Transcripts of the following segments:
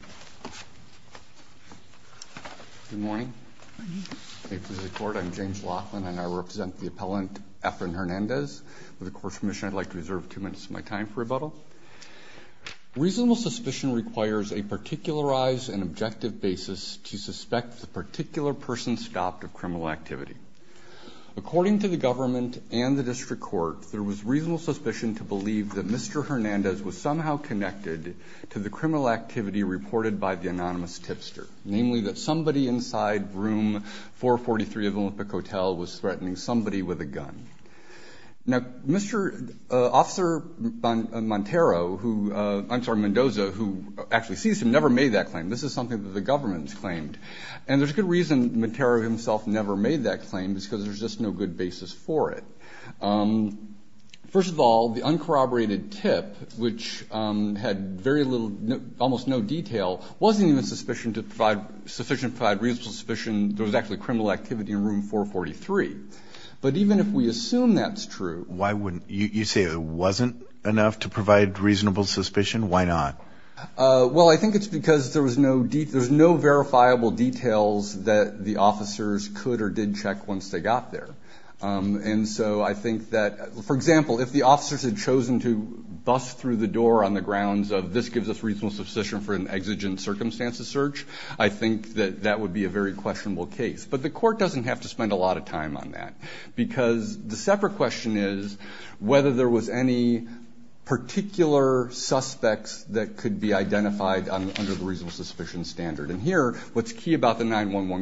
with the Court's permission, I'd like to reserve two minutes of my time for rebuttal. Reasonable suspicion requires a particularized and objective basis to suspect the particular person stopped of criminal activity. According to the government and the District Court, there was reasonable suspicion to believe that Mr. Hernandez was somehow connected to the criminal activity reported by the District Court. anonymous tipster, namely that somebody inside room 443 of Olympic Hotel was threatening somebody with a gun. Now, Mr. Officer Montero, who, I'm sorry, Mendoza, who actually sees him, never made that claim. This is something that the government's claimed. And there's good reason Montero himself never made that claim. It's because there's just no good basis for it. First of all, the uncorroborated tip, which had very little, almost no detail, wasn't even sufficient to provide reasonable suspicion there was actually criminal activity in room 443. But even if we assume that's true... Why wouldn't, you say it wasn't enough to provide reasonable suspicion? Why not? Well, I think it's because there was no, there's no verifiable details that the officers could or did check once they got there. And so I think that, for example, if the officers had chosen to bust through the door on the grounds of this gives us reasonable suspicion for an exigent circumstances search, I think that that would be a very questionable case. But the court doesn't have to spend a lot of time on that. Because the separate question is whether there was any particular suspects that could be identified under the reasonable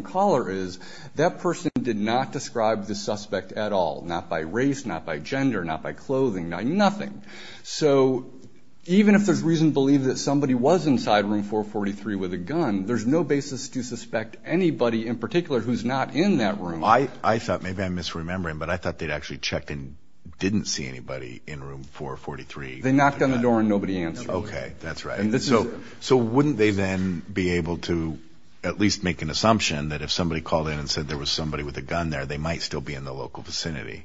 caller is that person did not describe the suspect at all, not by race, not by gender, not by clothing, nothing. So even if there's reason to believe that somebody was inside room 443 with a gun, there's no basis to suspect anybody in particular who's not in that room. I thought, maybe I'm misremembering, but I thought they'd actually checked and didn't see anybody in room 443. They knocked on the door and nobody answered. Okay, that's right. And so, so wouldn't they then be able to at least make an assumption that if somebody called in and said there was somebody with a gun there, they might still be in the local vicinity?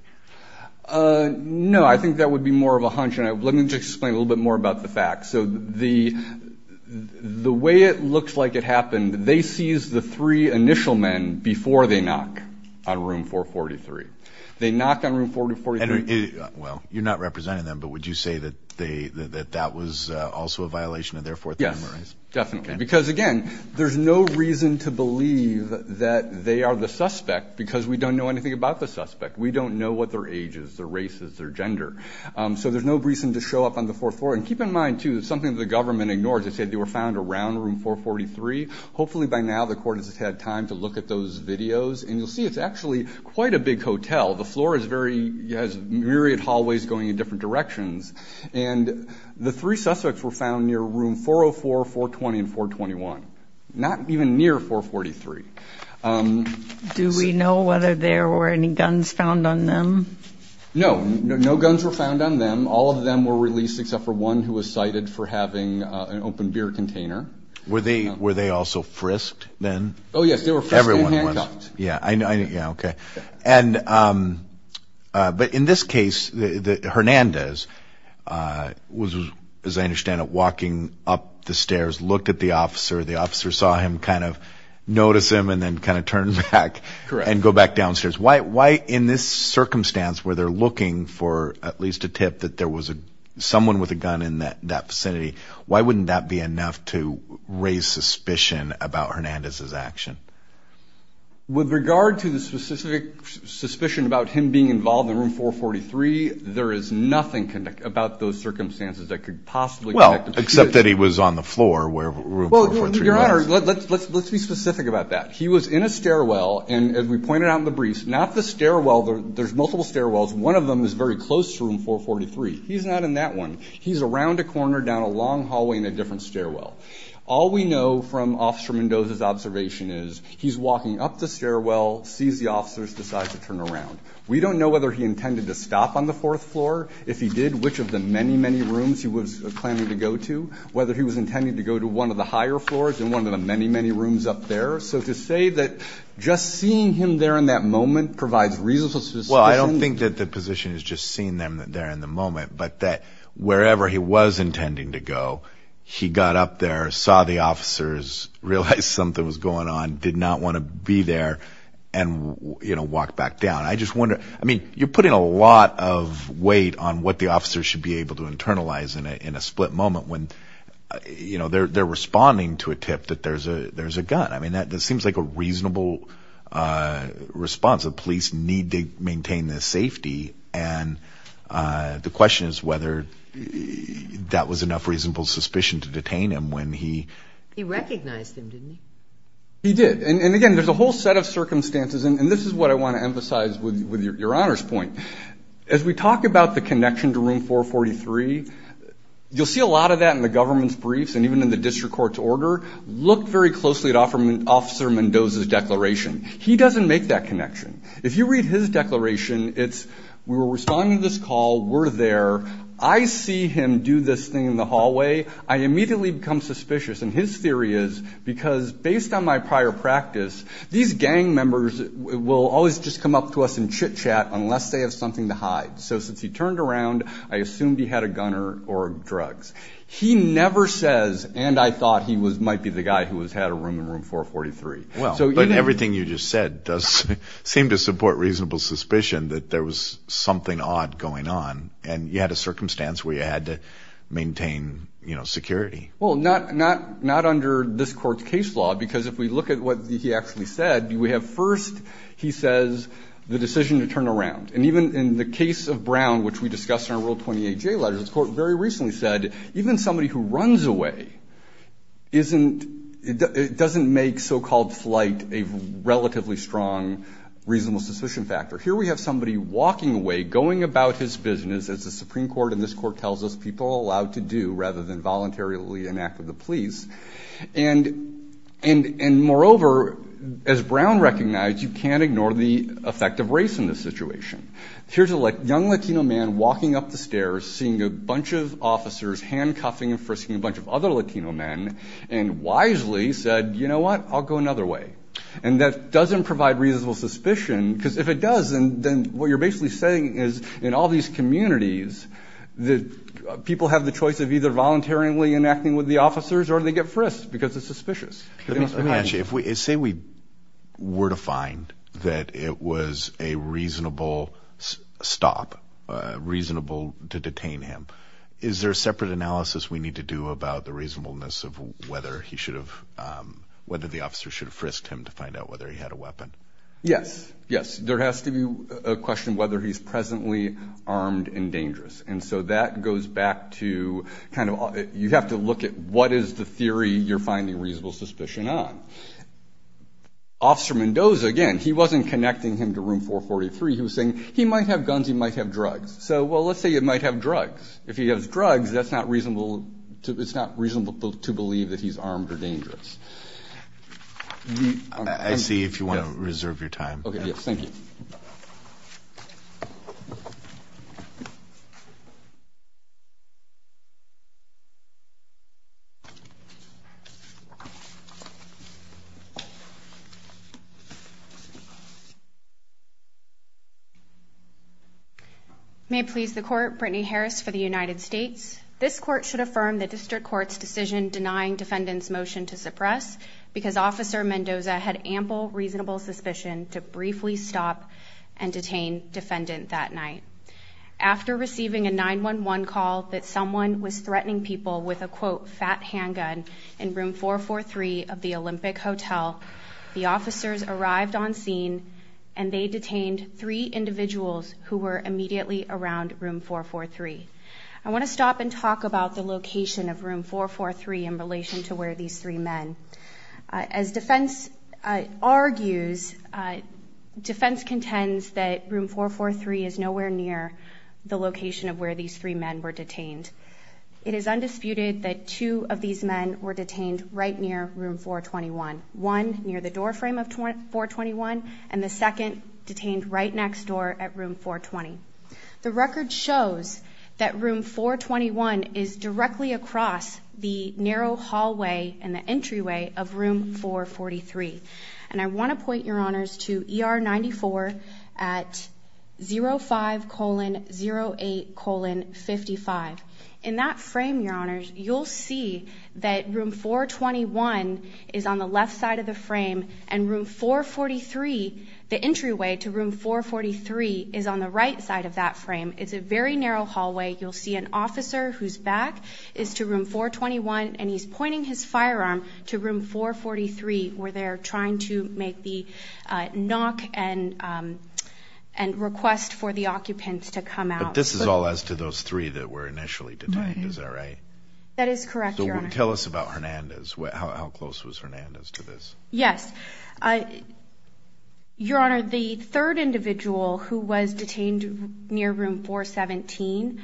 No, I think that would be more of a hunch. And let me just explain a little bit more about the fact. So the, the way it looks like it happened, they seized the three initial men before they knock on room 443. They knock on room 443. Well, you're not representing them, but would you say that they, that that was also a violation of their Fourth Amendment rights? Yes, definitely. Because again, there's no reason to believe that they are the suspect because we don't know anything about the suspect. We don't know what their age is, their race is, their gender. So there's no reason to show up on the Fourth Floor. And keep in mind too, something that the government ignores, they said they were found around room 443. Hopefully by now the court has had time to look at those videos and you'll see it's actually quite a big hotel. The floor is very, has myriad hallways going in different directions. And the three suspects were found near room 404, 420, and 421. Not even near 443. Do we know whether there were any guns found on them? No, no guns were found on them. All of them were released except for one who was cited for having an open beer container. Were they, were they also frisked then? Oh yes, they were frisked and handcuffed. Yeah, I know, yeah, okay. And, but in this case, Hernandez was, as I understand it, walking up the stairs, looked at the officer, the officer saw him kind of notice him and then kind of turned back and go back downstairs. Why, why in this circumstance where they're looking for at least a tip that there was a, someone with a gun in that, that vicinity, why wouldn't that be enough to raise suspicion about Hernandez's action? With regard to the specific suspicion about him being involved in room 443, there is nothing about those circumstances that could possibly connect them to this. Well, except that he was on the floor where room 443 was. Well, your honor, let's, let's, let's be specific about that. He was in a stairwell and as we pointed out in the briefs, not the stairwell, there's multiple stairwells, one of them is very close to room 443. He's not in that one. He's around a corner down a long distance. He's walking up the stairwell, sees the officers, decides to turn around. We don't know whether he intended to stop on the fourth floor. If he did, which of the many, many rooms he was planning to go to, whether he was intending to go to one of the higher floors and one of the many, many rooms up there. So to say that just seeing him there in that moment provides reasonable suspicion. Well, I don't think that the position is just seeing them there in the moment, but that wherever he was intending to go, he got up there, saw the officers, realized something was going on, did not want to be there, and, you know, walked back down. I just wonder, I mean, you're putting a lot of weight on what the officers should be able to internalize in a, in a split moment when, you know, they're, they're responding to a tip that there's a, there's a gun. I mean, that, that seems like a reasonable response. The police need to maintain their safety and the question is whether that was enough reasonable suspicion to detain him when he... He did. And, and again, there's a whole set of circumstances and, and this is what I want to emphasize with, with your, your Honor's point. As we talk about the connection to Room 443, you'll see a lot of that in the government's briefs and even in the district court's order. Look very closely at Officer Mendoza's declaration. He doesn't make that connection. If you read his declaration, it's, we were responding to this call, we're there, I see him do this thing in the hallway, I immediately become suspicious. And his theory is, because based on my prior practice, these gang members will always just come up to us and chit-chat unless they have something to hide. So since he turned around, I assumed he had a gunner or drugs. He never says, and I thought he was, might be the guy who was had a room in Room 443. Well, but everything you just said does seem to support reasonable suspicion that there was something odd going on and you had a circumstance where you had to maintain, you know, security. Well, not under this court's case law, because if we look at what he actually said, we have first, he says, the decision to turn around. And even in the case of Brown, which we discussed in our Rule 28J letters, the court very recently said, even somebody who runs away isn't, it doesn't make so-called flight a relatively strong reasonable suspicion factor. Here we have somebody walking away, going about his business, as the Supreme Court and this court tells us people are allowed to do rather than voluntarily enact with the police. And moreover, as Brown recognized, you can't ignore the effect of race in this situation. Here's a young Latino man walking up the stairs, seeing a bunch of officers handcuffing and frisking a bunch of other Latino men, and wisely said, you know what, I'll go another way. And that doesn't provide reasonable suspicion, because if it does, then what you're basically saying is, in all these communities, that people have the choice of either voluntarily enacting with the officers, or they get frisked, because it's suspicious. Let me ask you, say we were to find that it was a reasonable stop, reasonable to detain him, is there a separate analysis we need to do about the reasonableness of whether he should have, whether the officer should have frisked him to find out whether he had a weapon? Yes, yes. There has to be a question whether he's presently armed and dangerous. And so that goes back to, kind of, you have to look at what is the theory you're finding reasonable suspicion on. Officer Mendoza, again, he wasn't connecting him to room 443, he was saying, he might have guns, he might have drugs. So, well, let's say he might have drugs. If he has drugs, that's not reasonable, it's not reasonable to believe that he's armed or dangerous. I see if you want to reserve your time. May it please the Court, Brittany Harris for the United States. This Court should affirm the District Court's decision denying defendant's motion to suppress because Officer Mendoza had ample reasonable suspicion to briefly stop and detain defendant that night. After receiving a 911 call that someone was threatening people with a, quote, fat handgun in room 443 of the Olympic Hotel, the officers arrived on scene and they detained three individuals who were immediately around room 443. I want to stop and talk about the location of room 443 in relation to where these three men. As defense argues, defense contends that room 443 is nowhere near the location of where these three men were detained. It is undisputed that two of these men were detained right near room 421. One near the door frame of room 420. The record shows that room 421 is directly across the narrow hallway and the entryway of room 443. And I want to point your honors to ER 94 at 05 colon 08 colon 55. In that frame, your honors, you'll see that room 421 is on the left side of the frame and room 443, the entryway to room 443 is on the right side of that frame. It's a very narrow hallway. You'll see an officer who's back is to room 421 and he's pointing his firearm to room 443 where they're trying to make the knock and and request for the occupants to come out. This is all as to those three that were initially detained. Is that right? That is correct. Tell us about Hernandez. How close was Hernandez to this? Yes. Your honor, the third individual who was detained near room 417,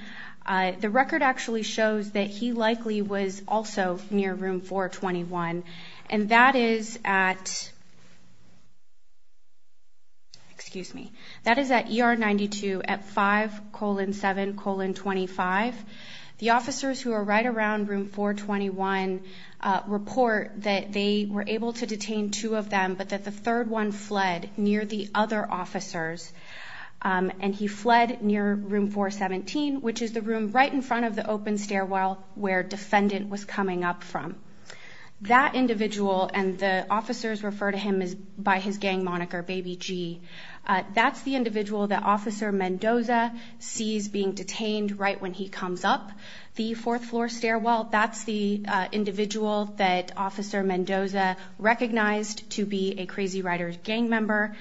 the record actually shows that he likely was also near room 421 and that is at, excuse me, that is at ER 92 at five colon seven colon 25. The officers who are right around room 421 report that they were able to detain two of them, but that the third one fled near the other officers. And he fled near room 417, which is the room right in front of the open stairwell where defendant was coming up from. That individual and the officers refer to him as by his gang moniker, baby G. That's the individual that officer Mendoza sees being detained right when he comes up the fourth floor stairwell. That's the individual that officer Mendoza recognized to be a crazy writer gang member.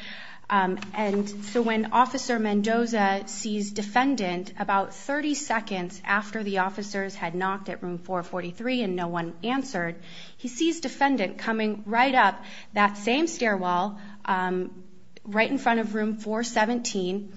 And so when officer Mendoza sees defendant about 30 seconds after the officers had knocked at room 443 and no one answered, he sees defendant coming right up that same stairwell right in front of room 417.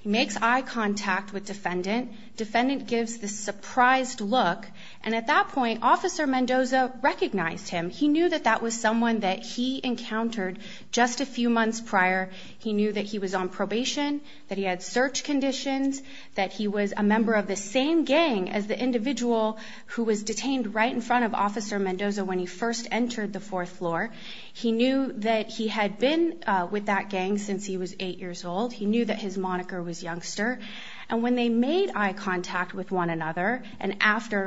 He makes eye contact with defendant. Defendant gives the surprised look. And at that point, officer Mendoza recognized him. He knew that that was someone that he encountered just a few months prior. He knew that he was on probation, that he had search conditions, that he was a member of the same gang as the officer on the fourth floor. He knew that he had been with that gang since he was eight years old. He knew that his moniker was youngster. And when they made eye contact with one another and after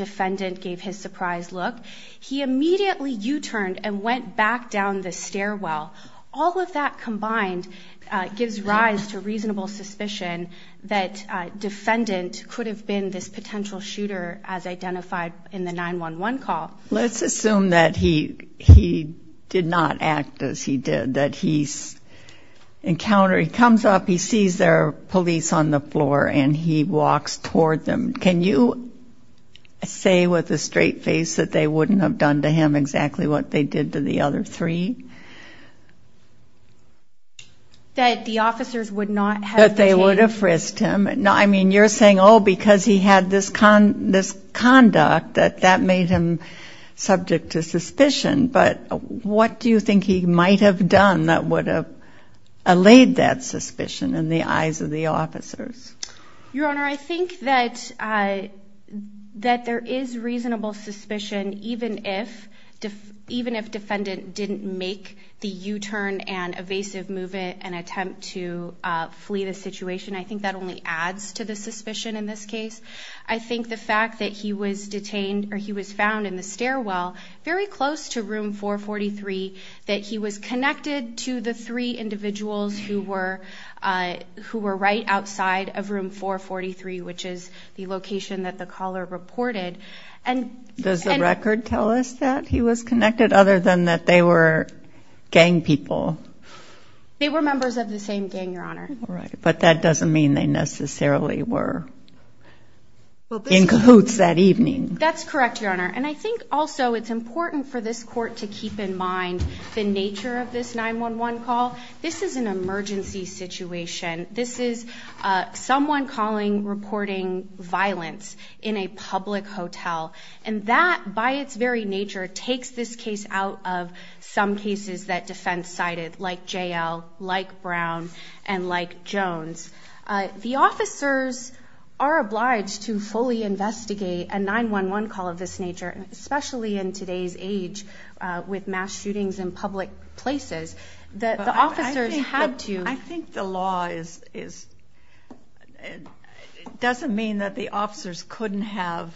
defendant gave his surprised look, he immediately U-turned and went back down the stairwell. All of that combined gives rise to reasonable suspicion that defendant could have been this potential shooter as identified in the 911 call. Let's assume that he did not act as he did, that he's encounter. He comes up, he sees there are police on the floor and he walks toward them. Can you say with a straight face that they wouldn't have done to him exactly what they did to the other three? That the officers would not have detained him. That they would have frisked him. I mean, you're saying, oh, because he had this conduct that that made him subject to suspicion. But what do you think he might have done that would have allayed that suspicion in the eyes of the officers? Your Honor, I think that there is reasonable suspicion even if defendant didn't make the U-turn and evasive move and attempt to flee the situation. I think that only adds to the possibility that he was found in the stairwell very close to room 443, that he was connected to the three individuals who were right outside of room 443, which is the location that the caller reported. Does the record tell us that he was connected other than that they were gang people? They were members of the same gang, Your Honor. But that doesn't mean they necessarily were in cahoots that evening. That's correct, Your Honor. And I think also it's important for this Court to keep in mind the nature of this 911 call. This is an emergency situation. This is someone calling, reporting violence in a public hotel. And that, by its very nature, takes this case out of some cases that defense cited, like J.L., like Brown, and like Jones. The officers are obliged to fully investigate a 911 call of this nature, especially in today's age with mass shootings in public places. The officers had to. I think the law is... It doesn't mean that the officers couldn't have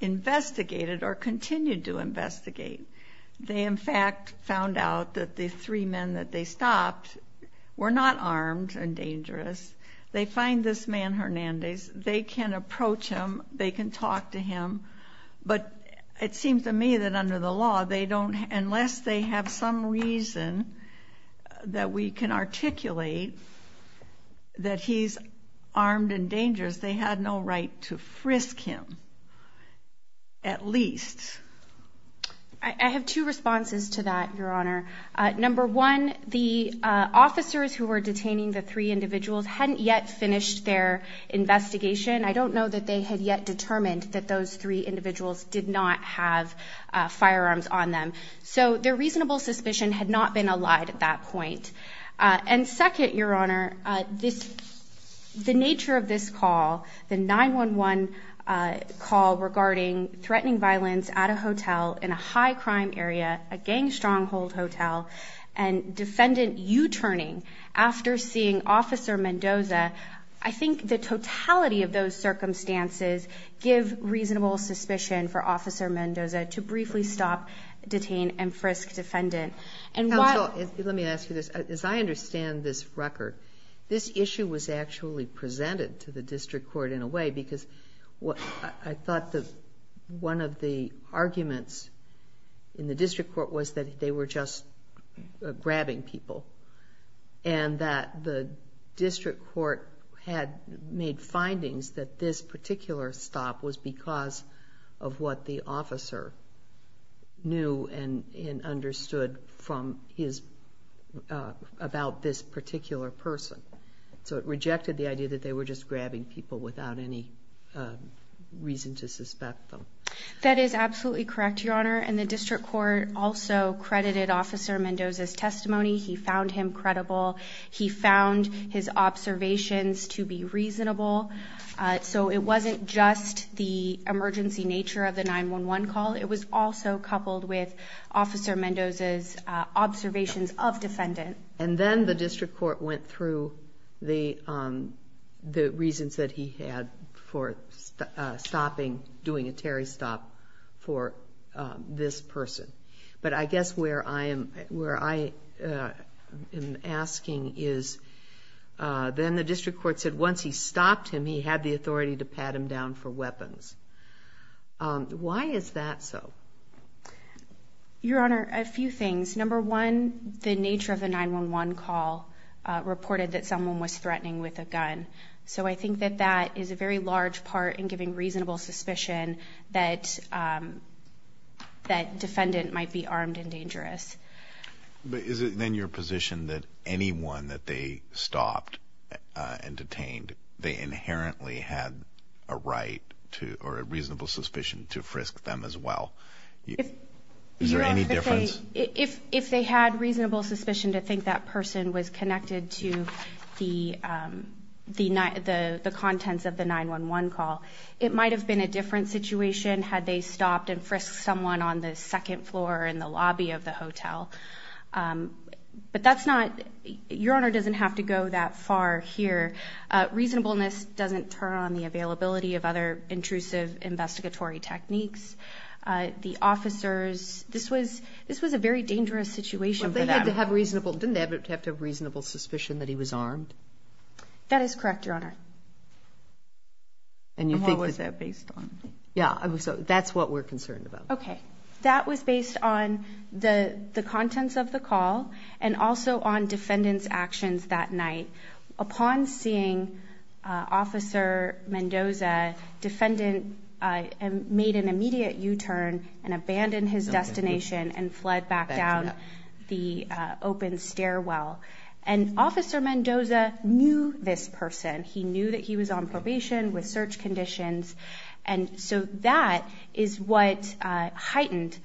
investigated or continued to investigate. They, in fact, found out that the three men that they stopped were not armed and dangerous. They find this man, Hernandez. They can approach him. They can talk to him. But it seems to me that under the law, they don't... Unless they have some reason that we can articulate that he's armed and dangerous, they had no right to frisk him, at least. I have two responses to that, Your Honor. Number one, the officers who were detaining the three individuals hadn't yet finished their investigation. I don't know that they had yet determined that those three individuals did not have firearms on them. So their reasonable suspicion had not been allied at that point. And second, Your Honor, the nature of this call regarding threatening violence at a hotel in a high crime area, a gang stronghold hotel, and defendant U-turning after seeing Officer Mendoza, I think the totality of those circumstances give reasonable suspicion for Officer Mendoza to briefly stop, detain, and frisk defendant. And why... Counsel, let me ask you this. As I understand this record, this issue was actually presented to the district court in a way because I thought that one of the arguments in the district court was that they were just grabbing people. And that the district court had made findings that this particular stop was because of what the officer knew and understood from his... Was grabbing people without any reason to suspect them. That is absolutely correct, Your Honor. And the district court also credited Officer Mendoza's testimony. He found him credible. He found his observations to be reasonable. So it wasn't just the emergency nature of the 911 call. It was also coupled with Officer Mendoza's observations of defendant. And then the district court went through the reasons that he had for stopping, doing a Terry stop for this person. But I guess where I am asking is, then the district court said once he stopped him, he had the authority to pat him down for weapons. Why is that so? Your Honor, a few things. Number one, the nature of the 911 call reported that someone was threatening with a gun. So I think that that is a very large part in giving reasonable suspicion that defendant might be armed and dangerous. But is it then your position that anyone that they stopped and detained, they inherently had a right or a reasonable suspicion to frisk them as well? Is there any difference? If they had reasonable suspicion to think that person was connected to the contents of the 911 call, it might have been a different situation had they stopped and frisked someone on the second floor in the lobby of the hotel. But that's not... Your Honor doesn't have to go that far here. Reasonableness doesn't turn on the availability of other intrusive investigatory techniques. The officers... This was a very dangerous situation for them. Didn't they have to have reasonable suspicion that he was armed? That is correct, Your Honor. And what was that based on? That's what we're concerned about. That was based on the contents of the call and also on defendant's actions that night. Upon seeing Officer Mendoza, defendant made an immediate U-turn and abandoned his destination and fled back down the open stairwell. And Officer Mendoza knew this person. He knew that he was on probation with search conditions. And so that is what heightened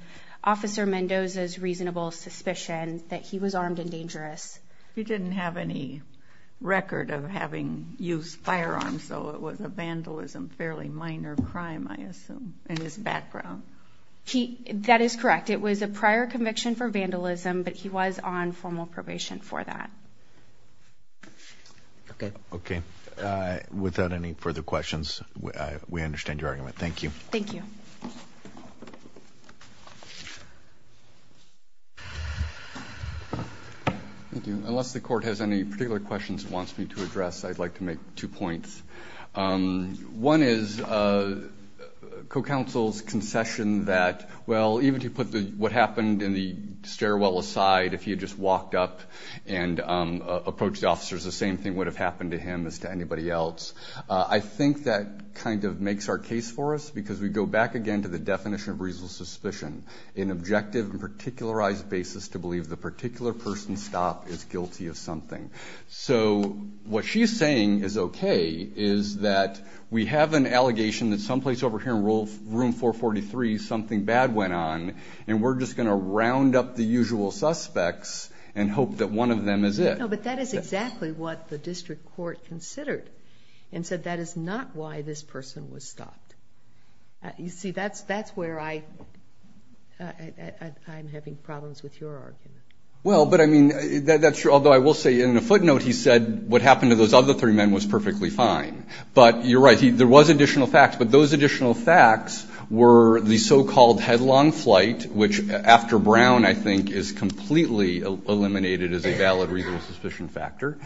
Officer Mendoza's reasonable suspicion that he was armed and dangerous. He didn't have any record of having used firearms, so it was a vandalism, fairly minor crime, I assume, in his background. That is correct. It was a prior conviction for vandalism, but he was on formal probation for that. Okay. Okay. Without any further questions, we understand your argument. Thank you. Thank you. Thank you. Unless the Court has any particular questions it wants me to address, I'd like to make two points. One is co-counsel's concession that, well, even if you put what happened in the stairwell aside, if he had just walked up and approached the officers, the same thing would have happened to him as to anybody else. I think that kind of makes our case for us because we go back again to the definition of reasonable suspicion, an objective and particularized basis to believe the particular person's stop is guilty of something. So what she's saying is okay, is that we have an allegation that someplace over here in room 443 something bad went on and we're just going to round up the usual suspects and hope that one of them is it. No, but that is exactly what the district court considered and said that is not why this person was stopped. You see, that's where I'm having problems with your argument. Well, but I mean, although I will say in a footnote he said what happened to those other three men was perfectly fine. But you're right, there was additional facts, but those additional facts were the so-called headlong flight, which after Brown, I think, is completely eliminated as a valid reasonable suspicion factor.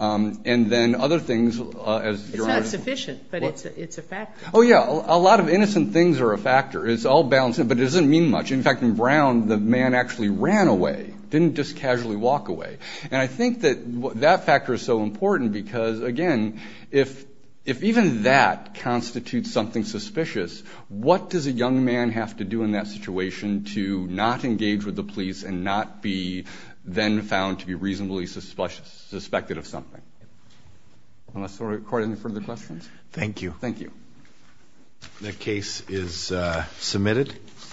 And then other things as you're It's not sufficient, but it's a factor. Oh yeah, a lot of innocent things are a factor. It's all balanced, but it doesn't mean much. In fact, in Brown, the man actually ran away, didn't just casually walk away. And I think that that factor is so important because, again, if even that constitutes something suspicious, what does a young man have to do in that situation to not engage with the police and not be then found to be reasonably suspected of something? Unless there are quite any further questions? Thank you. Thank you. The case is submitted.